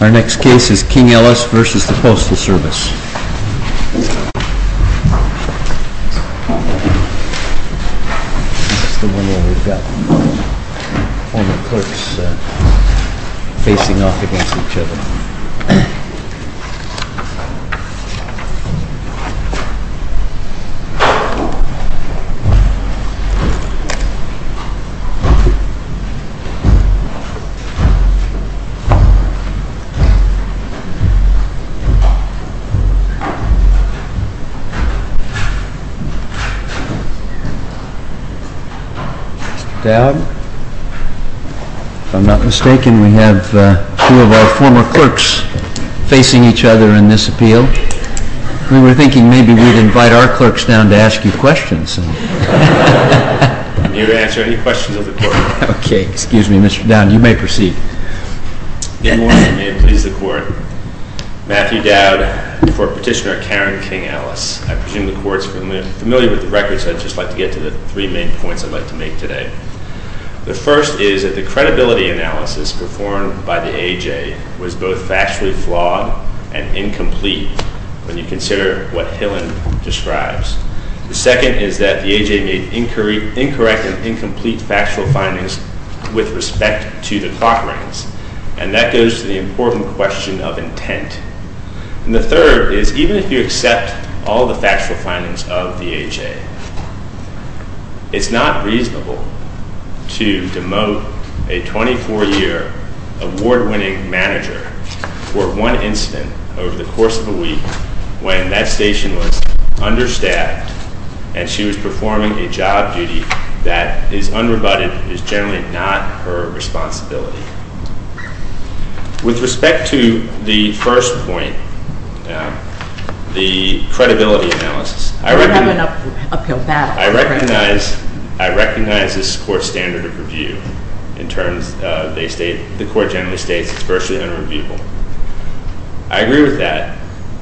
Our next case is King-Ellis v. The Postal Service. That's the one where we've got all the clerks facing off against each other. Mr. Dowd, if I'm not mistaken, we have two of our former clerks facing each other in this appeal. We were thinking maybe we'd invite our clerks down to ask you questions. Can you answer any questions of the clerk? Okay, excuse me, Mr. Dowd, you may proceed. Good morning, and may it please the Court. Matthew Dowd for Petitioner Karen King-Ellis. I presume the Court's familiar with the record, so I'd just like to get to the three main points I'd like to make today. The first is that the credibility analysis performed by the AJ was both factually flawed and incomplete when you consider what Hillen describes. The second is that the AJ made incorrect and incomplete factual findings with respect to the clock rings, and that goes to the important question of intent. And the third is even if you accept all the factual findings of the AJ, it's not reasonable to demote a 24-year award-winning manager for one incident over the course of a week when that station was understaffed and she was performing a job duty that is unrebutted and is generally not her responsibility. With respect to the first point, the credibility analysis, I recognize this is a court standard of review. In terms of the court generally states it's virtually unreviewable. I agree with that,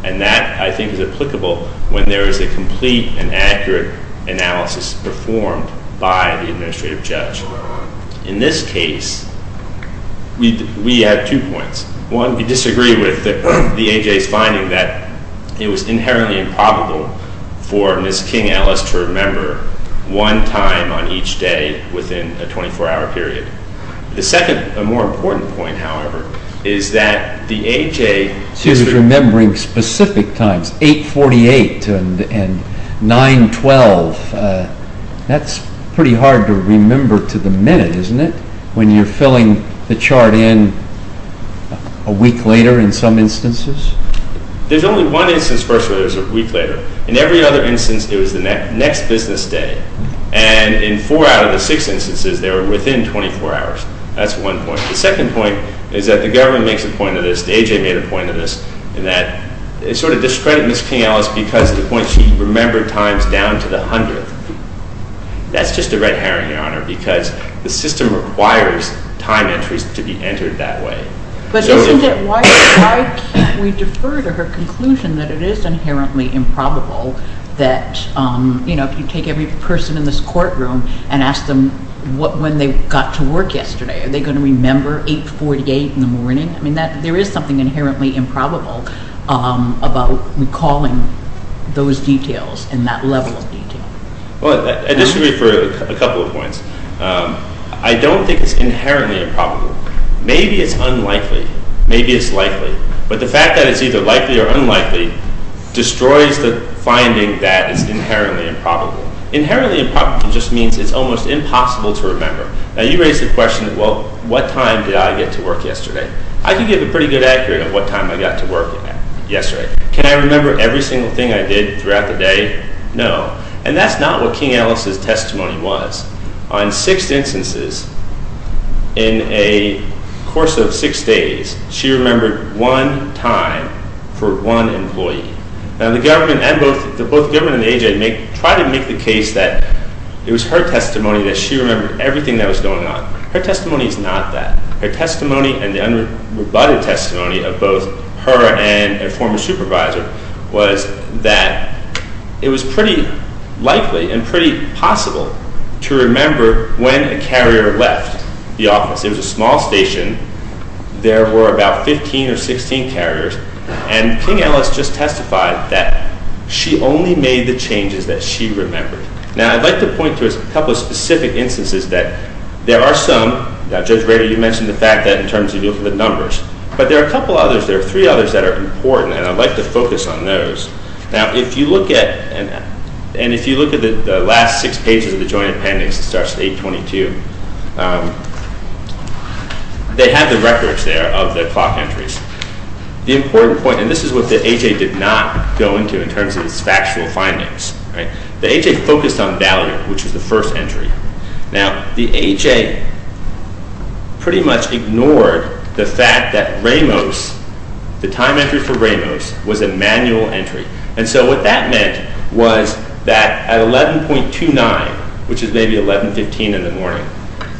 and that I think is applicable when there is a complete and accurate analysis performed by the administrative judge. In this case, we have two points. One, we disagree with the AJ's finding that it was inherently improbable for Ms. King-Ellis to remember one time on each day within a 24-hour period. The second, a more important point, however, is that the AJ- She was remembering specific times, 848 and 912. That's pretty hard to remember to the minute, isn't it, when you're filling the chart in a week later in some instances? There's only one instance where it was a week later. In every other instance, it was the next business day. And in four out of the six instances, they were within 24 hours. That's one point. The second point is that the government makes a point of this, the AJ made a point of this, in that it sort of discredited Ms. King-Ellis because of the point she remembered times down to the hundredth. That's just a red herring, Your Honor, because the system requires time entries to be entered that way. But isn't it, why can't we defer to her conclusion that it is inherently improbable that, you know, if you take every person in this courtroom and ask them when they got to work yesterday, are they going to remember 848 in the morning? I mean, there is something inherently improbable about recalling those details and that level of detail. Well, this would be for a couple of points. I don't think it's inherently improbable. Maybe it's unlikely. Maybe it's likely. But the fact that it's either likely or unlikely destroys the finding that it's inherently improbable. Inherently improbable just means it's almost impossible to remember. Now, you raise the question, well, what time did I get to work yesterday? I can give a pretty good accurate of what time I got to work yesterday. Can I remember every single thing I did throughout the day? No. And that's not what King-Ellis' testimony was. On six instances, in a course of six days, she remembered one time for one employee. Now, the government and both the government and the AJ tried to make the case that it was her testimony that she remembered everything that was going on. Her testimony is not that. Her testimony and the unrebutted testimony of both her and a former supervisor was that it was pretty likely and pretty possible to remember when a carrier left the office. It was a small station. There were about 15 or 16 carriers. And King-Ellis just testified that she only made the changes that she remembered. Now, I'd like to point to a couple of specific instances that there are some. Judge Rader, you mentioned the fact that in terms of looking at numbers. But there are a couple others. There are three others that are important. And I'd like to focus on those. Now, if you look at the last six pages of the Joint Appendix, it starts at 822, they have the records there of the clock entries. The important point, and this is what the AJ did not go into in terms of its factual findings. The AJ focused on Valerie, which is the first entry. Now, the AJ pretty much ignored the fact that Ramos, the time entry for Ramos, was a manual entry. And so what that meant was that at 11.29, which is maybe 11.15 in the morning,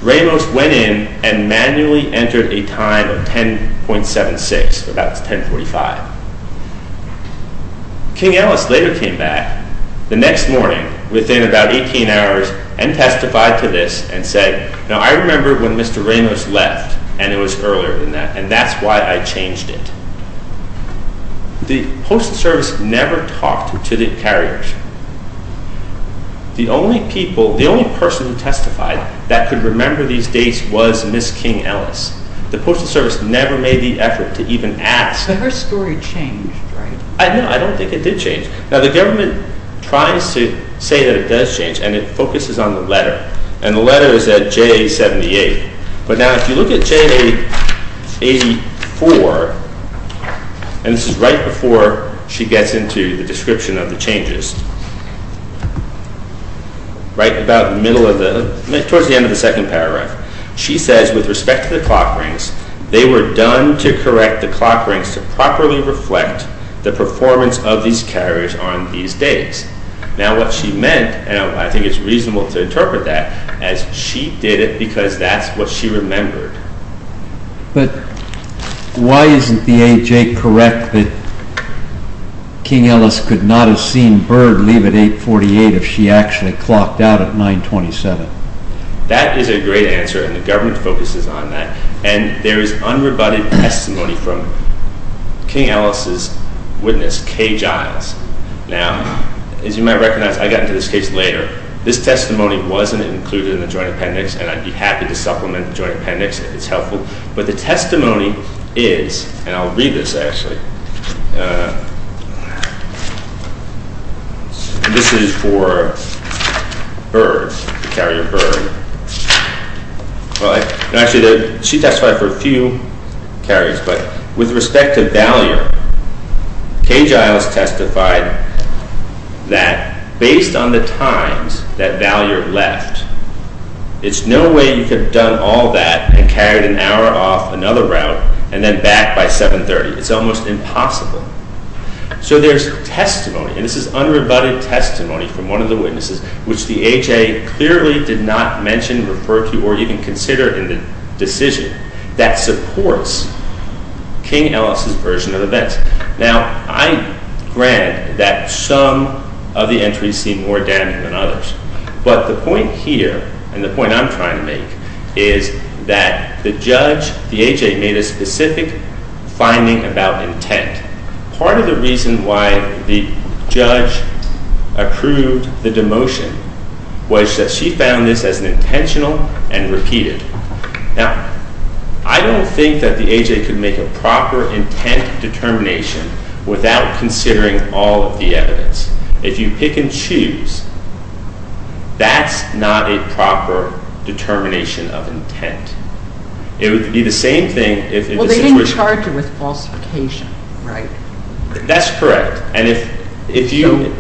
Ramos went in and manually entered a time of 10.76, about 10.45. King-Ellis later came back the next morning, within about 18 hours, and testified to this and said, Now, I remember when Mr. Ramos left, and it was earlier than that, and that's why I changed it. The Postal Service never talked to the carriers. The only person who testified that could remember these dates was Ms. King-Ellis. The Postal Service never made the effort to even ask. So her story changed, right? No, I don't think it did change. Now, the government tries to say that it does change, and it focuses on the letter. And the letter is at J.A. 78. But now, if you look at J.A. 84, and this is right before she gets into the description of the changes, right about the middle of the, towards the end of the second paragraph, she says, Now, what she meant, and I think it's reasonable to interpret that, as she did it because that's what she remembered. But why isn't the A.J. correct that King-Ellis could not have seen Byrd leave at 8.48 if she actually clocked out at 9.27? That is a great answer, and the government focuses on that. And there is unrebutted testimony from King-Ellis' witness, Kay Giles. Now, as you might recognize, I got into this case later. This testimony wasn't included in the Joint Appendix, and I'd be happy to supplement the Joint Appendix if it's helpful. This is for Byrd, the carrier Byrd. Well, actually, she testified for a few carriers. But with respect to Vallier, Kay Giles testified that based on the times that Vallier left, it's no way you could have done all that and carried an hour off another route and then back by 7.30. It's almost impossible. So there's testimony, and this is unrebutted testimony from one of the witnesses, which the A.J. clearly did not mention, refer to, or even consider in the decision that supports King-Ellis' version of events. Now, I grant that some of the entries seem more damning than others. But the point here, and the point I'm trying to make, is that the judge, the A.J., made a specific finding about intent. Part of the reason why the judge approved the demotion was that she found this as intentional and repeated. Now, I don't think that the A.J. could make a proper intent determination without considering all of the evidence. If you pick and choose, that's not a proper determination of intent. It would be the same thing if the situation- Well, they didn't charge her with falsification, right? That's correct. And if you-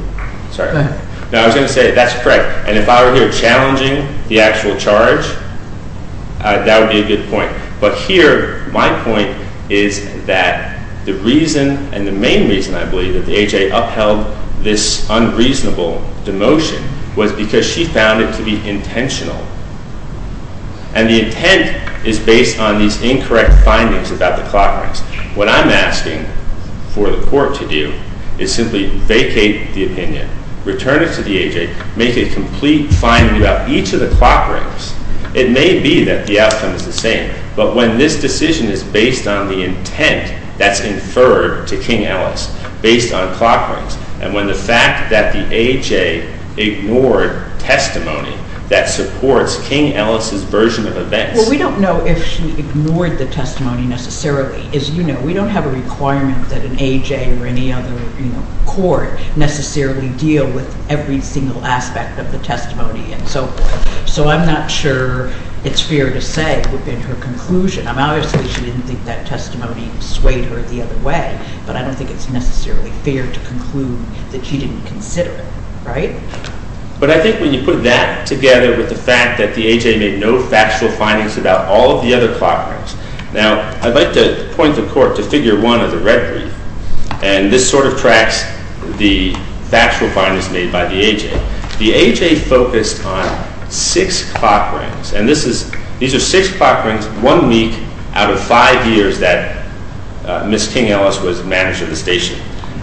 Sorry. Go ahead. No, I was going to say that's correct. And if I were here challenging the actual charge, that would be a good point. But here, my point is that the reason and the main reason, I believe, that the A.J. upheld this unreasonable demotion was because she found it to be intentional. And the intent is based on these incorrect findings about the clock rings. What I'm asking for the court to do is simply vacate the opinion, return it to the A.J., make a complete finding about each of the clock rings. It may be that the outcome is the same. But when this decision is based on the intent that's inferred to King Ellis, based on clock rings, and when the fact that the A.J. ignored testimony that supports King Ellis' version of events- Well, we don't know if she ignored the testimony necessarily. As you know, we don't have a requirement that an A.J. or any other court necessarily deal with every single aspect of the testimony and so forth. So I'm not sure it's fair to say it would have been her conclusion. Obviously, she didn't think that testimony swayed her the other way, but I don't think it's necessarily fair to conclude that she didn't consider it. Right? But I think when you put that together with the fact that the A.J. made no factual findings about all of the other clock rings. Now, I'd like to point the court to Figure 1 of the red brief, and this sort of tracks the factual findings made by the A.J. The A.J. focused on six clock rings, and these are six clock rings, one week out of five years that Ms. King Ellis was manager of the station.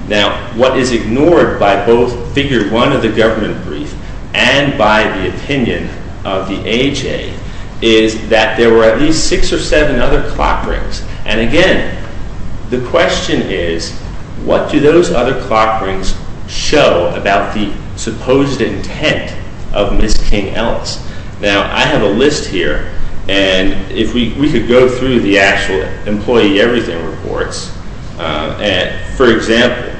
Now, what is ignored by both Figure 1 of the government brief and by the opinion of the A.J. is that there were at least six or seven other clock rings. And again, the question is, what do those other clock rings show about the supposed intent of Ms. King Ellis? Now, I have a list here, and if we could go through the actual employee everything reports. For example,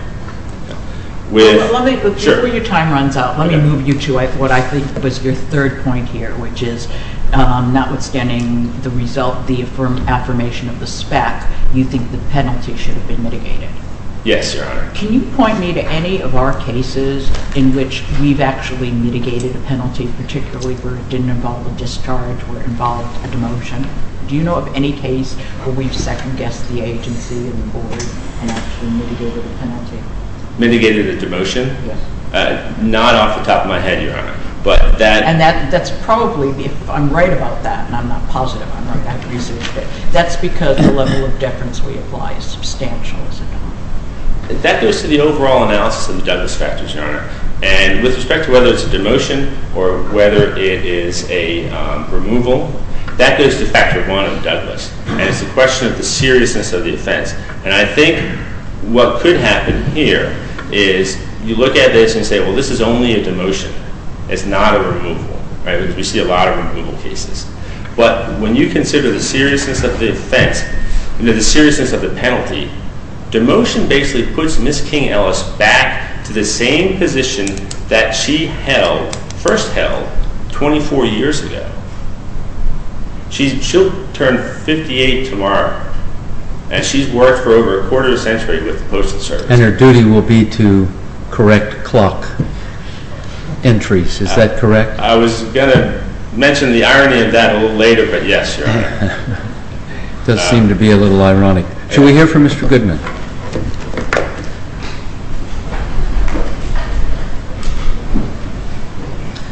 with- Before your time runs out, let me move you to what I think was your third point here, which is notwithstanding the affirmation of the spec, you think the penalty should have been mitigated. Yes, Your Honor. Can you point me to any of our cases in which we've actually mitigated a penalty, particularly where it didn't involve a discharge, where it involved a demotion? Do you know of any case where we've second-guessed the agency and the board and actually mitigated a penalty? Mitigated a demotion? Yes. Not off the top of my head, Your Honor, but that- And that's probably, if I'm right about that, and I'm not positive I'm right, that's because the level of deference we apply is substantial, is it not? That goes to the overall analysis of the Douglas factors, Your Honor. And with respect to whether it's a demotion or whether it is a removal, that goes to factor one of Douglas, and it's a question of the seriousness of the offense. And I think what could happen here is you look at this and say, well, this is only a demotion. It's not a removal, right, because we see a lot of removal cases. But when you consider the seriousness of the offense and the seriousness of the penalty, demotion basically puts Ms. King-Ellis back to the same position that she held, first held, 24 years ago. She'll turn 58 tomorrow, and she's worked for over a quarter of a century with the Postal Service. And her duty will be to correct clock entries. Is that correct? I was going to mention the irony of that a little later, but yes, Your Honor. It does seem to be a little ironic. Should we hear from Mr. Goodman?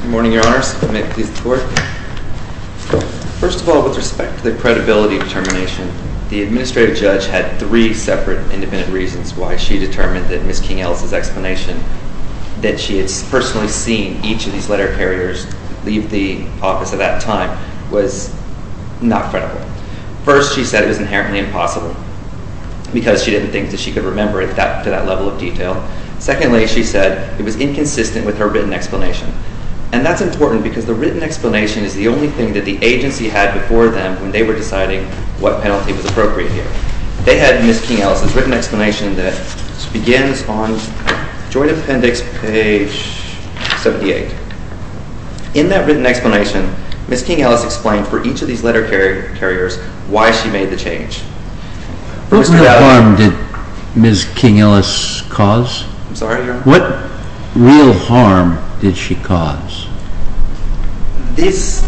Good morning, Your Honors. May it please the Court? First of all, with respect to the credibility determination, the administrative judge had three separate independent reasons why she determined that Ms. King-Ellis' explanation that she had personally seen each of these letter carriers leave the office at that time was not credible. First, she said it was inherently impossible because she didn't think that she could remember it to that level of detail. Secondly, she said it was inconsistent with her written explanation. And that's important because the written explanation is the only thing that the agency had before them when they were deciding what penalty was appropriate here. They had Ms. King-Ellis' written explanation that begins on Joint Appendix page 78. In that written explanation, Ms. King-Ellis explained for each of these letter carriers why she made the change. What real harm did Ms. King-Ellis cause? I'm sorry, Your Honor? What real harm did she cause? This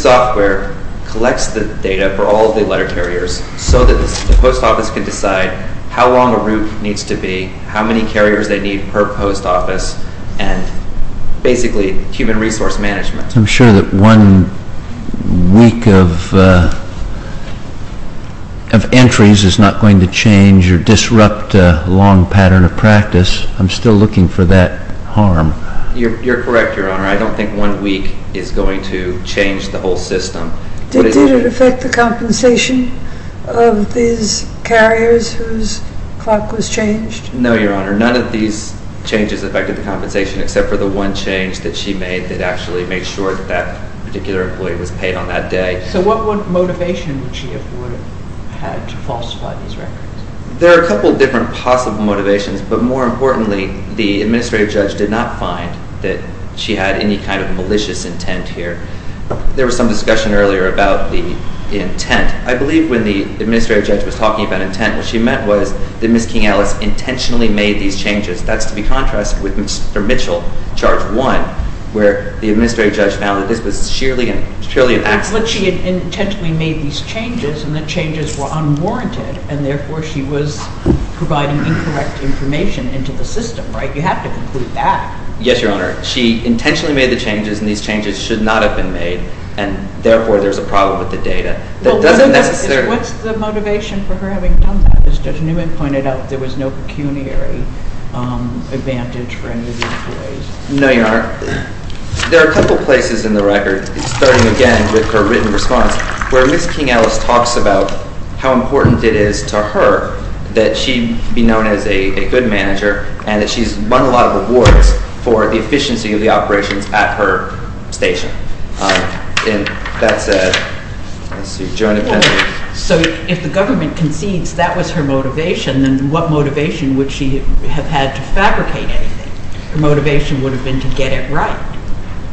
software collects the data for all of the letter carriers so that the post office can decide how long a route needs to be, how many carriers they need per post office, and basically human resource management. I'm sure that one week of entries is not going to change or disrupt a long pattern of practice. I'm still looking for that harm. You're correct, Your Honor. I don't think one week is going to change the whole system. Did it affect the compensation of these carriers whose clock was changed? No, Your Honor. None of these changes affected the compensation except for the one change that she made that actually made sure that that particular employee was paid on that day. So what motivation would she have had to falsify these records? There are a couple of different possible motivations, but more importantly the administrative judge did not find that she had any kind of malicious intent here. There was some discussion earlier about the intent. I believe when the administrative judge was talking about intent, what she meant was that Ms. King-Ellis intentionally made these changes. That's to be contrasted with Mr. Mitchell, Charge 1, where the administrative judge found that this was sheerly an accident. But she intentionally made these changes, and the changes were unwarranted, and therefore she was providing incorrect information into the system, right? You have to conclude that. Yes, Your Honor. She intentionally made the changes, and these changes should not have been made, and therefore there's a problem with the data. What's the motivation for her having done that? As Judge Newman pointed out, there was no pecuniary advantage for any of these employees. No, Your Honor. There are a couple of places in the record, starting again with her written response, where Ms. King-Ellis talks about how important it is to her that she be known as a good manager and that she's won a lot of awards for the efficiency of the operations at her station. And that's a joint offensive. So if the government concedes that was her motivation, then what motivation would she have had to fabricate anything? Her motivation would have been to get it right.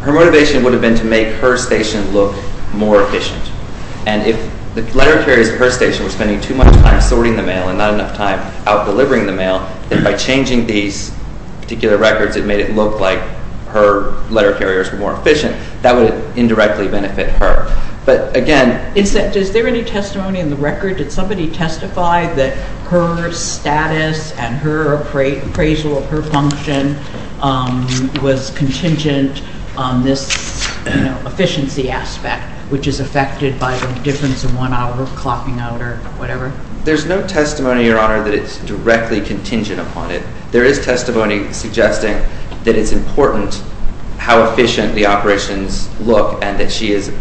Her motivation would have been to make her station look more efficient. And if the letter carriers at her station were spending too much time sorting the mail and not enough time out delivering the mail, then by changing these particular records it made it look like her letter carriers were more efficient. That would indirectly benefit her. But again... Is there any testimony in the record? Did somebody testify that her status and her appraisal of her function was contingent on this efficiency aspect, which is affected by the difference in one hour clocking out or whatever? There's no testimony, Your Honor, that it's directly contingent upon it. There is testimony suggesting that it's important how efficient the operations look and that she is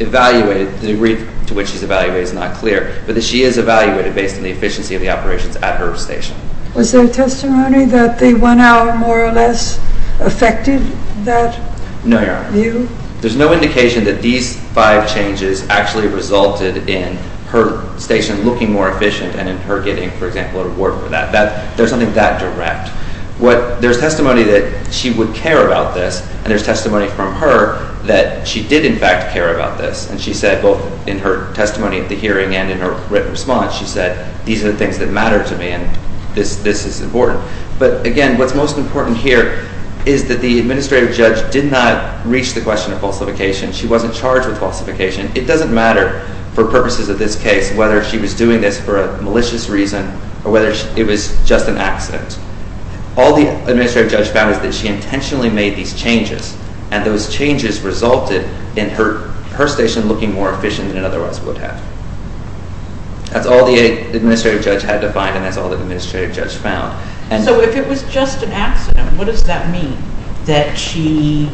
evaluated. The degree to which she's evaluated is not clear. But that she is evaluated based on the efficiency of the operations at her station. Was there testimony that the one hour more or less affected that view? No, Your Honor. There's no indication that these five changes actually resulted in her station looking more efficient and in her getting, for example, an award for that. There's nothing that direct. There's testimony that she would care about this, and there's testimony from her that she did, in fact, care about this. And she said, both in her testimony at the hearing and in her written response, she said, these are the things that matter to me and this is important. But again, what's most important here is that the administrative judge did not reach the question of falsification. She wasn't charged with falsification. It doesn't matter for purposes of this case whether she was doing this for a malicious reason or whether it was just an accident. All the administrative judge found is that she intentionally made these changes, and those changes resulted in her station looking more efficient than it otherwise would have. That's all the administrative judge had to find, and that's all the administrative judge found. So if it was just an accident, what does that mean, that she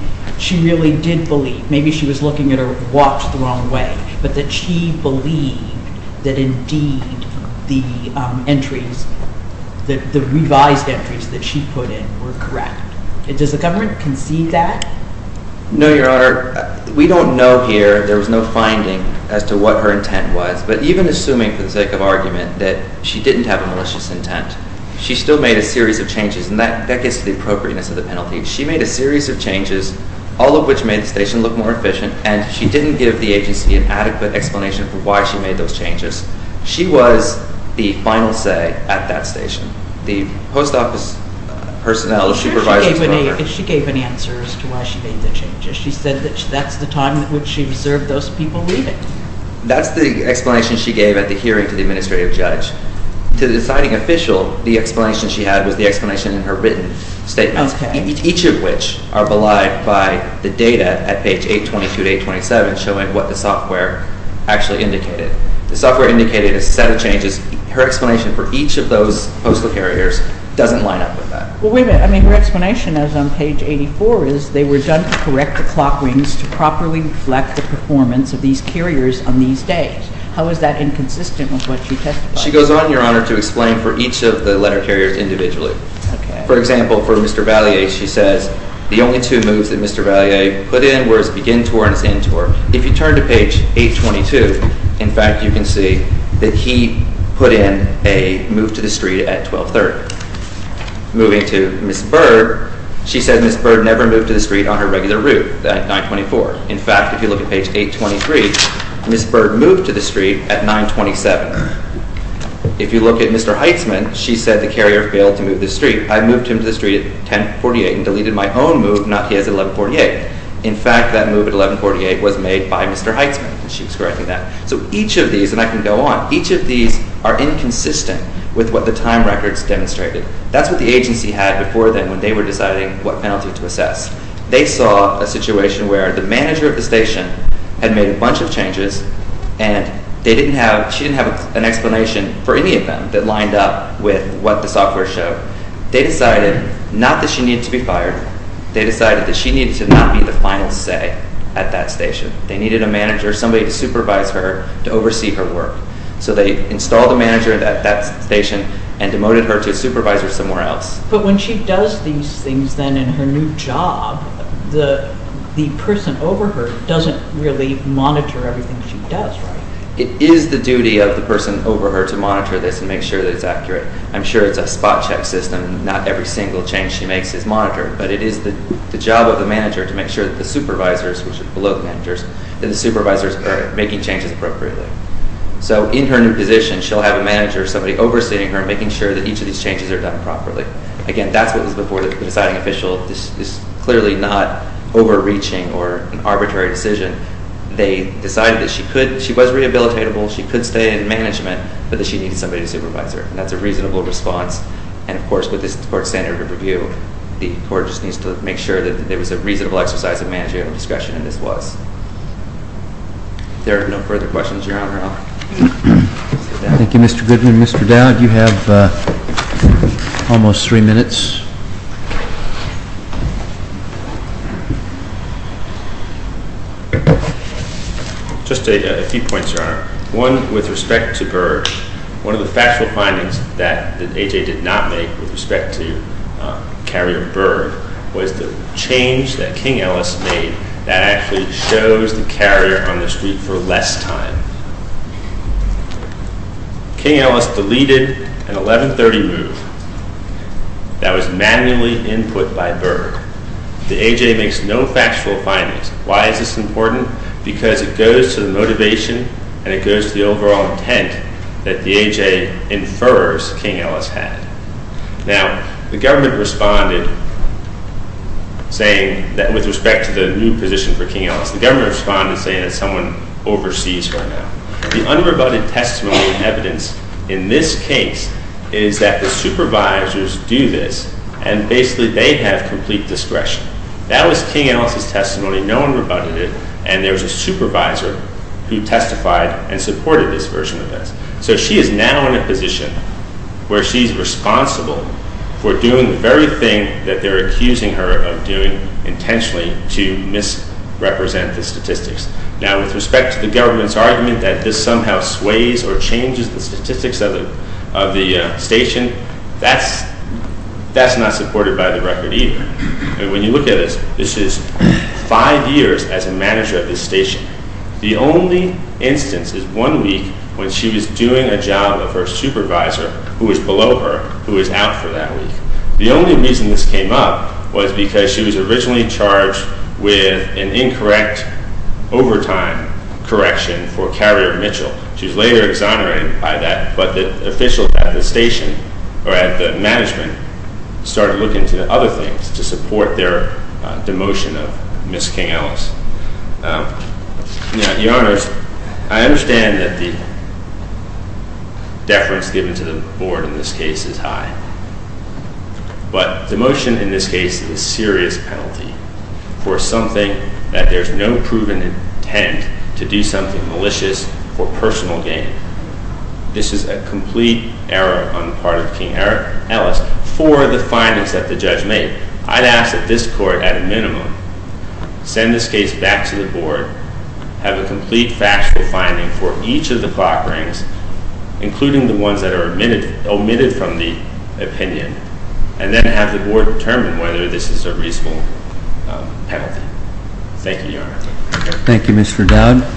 really did believe? Maybe she was looking at her watch the wrong way, but that she believed that indeed the entries, the revised entries that she put in were correct. Does the government concede that? No, Your Honor. We don't know here. There was no finding as to what her intent was. But even assuming for the sake of argument that she didn't have a malicious intent, she still made a series of changes, and that gets to the appropriateness of the penalty. She made a series of changes, all of which made the station look more efficient, and she didn't give the agency an adequate explanation for why she made those changes. She was the final say at that station. The post office personnel, the supervisor's governor. She gave an answer as to why she made the changes. She said that that's the time in which she observed those people read it. That's the explanation she gave at the hearing to the administrative judge. To the deciding official, the explanation she had was the explanation in her written statements, each of which are belied by the data at page 822 to 827 showing what the software actually indicated. The software indicated a set of changes. Her explanation for each of those postal carriers doesn't line up with that. Well, wait a minute. I mean, her explanation as on page 84 is they were done to correct the clock wings to properly reflect the performance of these carriers on these days. How is that inconsistent with what you testified? She goes on, Your Honor, to explain for each of the letter carriers individually. For example, for Mr. Vallier, she says the only two moves that Mr. Vallier put in were his begin tour and his end tour. If you turn to page 822, in fact, you can see that he put in a move to the street at 1230. Moving to Ms. Bird, she said Ms. Bird never moved to the street on her regular route at 924. In fact, if you look at page 823, Ms. Bird moved to the street at 927. If you look at Mr. Heitzman, she said the carrier failed to move to the street. I moved him to the street at 1048 and deleted my own move, not his at 1148. In fact, that move at 1148 was made by Mr. Heitzman, and she was correcting that. So each of these, and I can go on, each of these are inconsistent with what the time records demonstrated. That's what the agency had before then when they were deciding what penalty to assess. They saw a situation where the manager of the station had made a bunch of changes, and she didn't have an explanation for any of them that lined up with what the software showed. They decided not that she needed to be fired. They decided that she needed to not be the final say at that station. They needed a manager, somebody to supervise her, to oversee her work. So they installed a manager at that station and demoted her to a supervisor somewhere else. But when she does these things then in her new job, the person over her doesn't really monitor everything she does, right? It is the duty of the person over her to monitor this and make sure that it's accurate. I'm sure it's a spot check system, not every single change she makes is monitored, but it is the job of the manager to make sure that the supervisors, which are below the managers, that the supervisors are making changes appropriately. So in her new position, she'll have a manager, somebody overseeing her, making sure that each of these changes are done properly. Again, that's what was before the deciding official. This is clearly not overreaching or an arbitrary decision. They decided that she was rehabilitatable, she could stay in management, but that she needed somebody to supervise her, and that's a reasonable response. And, of course, with this court standard of review, the court just needs to make sure that there was a reasonable exercise of managerial discretion, and this was. If there are no further questions, Your Honor, I'll sit down. Thank you, Mr. Goodman. Mr. Dowd, you have almost three minutes. Just a few points, Your Honor. One, with respect to Berg, one of the factual findings that A.J. did not make with respect to carrier Berg was the change that King-Ellis made that actually shows the carrier on the street for less time. King-Ellis deleted an 1130 move that was manually input by Berg. The A.J. makes no factual findings. Why is this important? Because it goes to the motivation and it goes to the overall intent that the A.J. infers King-Ellis had. Now, the government responded saying that with respect to the new position for King-Ellis, the government responded saying that someone oversees her now. The unrebutted testimony and evidence in this case is that the supervisors do this, and basically they have complete discretion. That was King-Ellis' testimony. No one rebutted it, and there was a supervisor who testified and supported this version of this. So she is now in a position where she's responsible for doing the very thing that they're accusing her of doing intentionally to misrepresent the statistics. Now, with respect to the government's argument that this somehow sways or changes the statistics of the station, that's not supported by the record either. When you look at this, this is five years as a manager of this station. The only instance is one week when she was doing a job of her supervisor who was below her who was out for that week. The only reason this came up was because she was originally charged with an incorrect overtime correction for carrier Mitchell. She was later exonerated by that, but the officials at the station or at the management started looking into other things to support their demotion of Miss King-Ellis. Now, Your Honors, I understand that the deference given to the board in this case is high, but the motion in this case is a serious penalty for something that there's no proven intent to do something malicious or personal gain. This is a complete error on the part of King-Ellis for the findings that the judge made. I'd ask that this court, at a minimum, send this case back to the board, have a complete factual finding for each of the clock rings, including the ones that are omitted from the opinion, and then have the board determine whether this is a reasonable penalty. Thank you, Your Honor. Thank you, Mr. Dowd.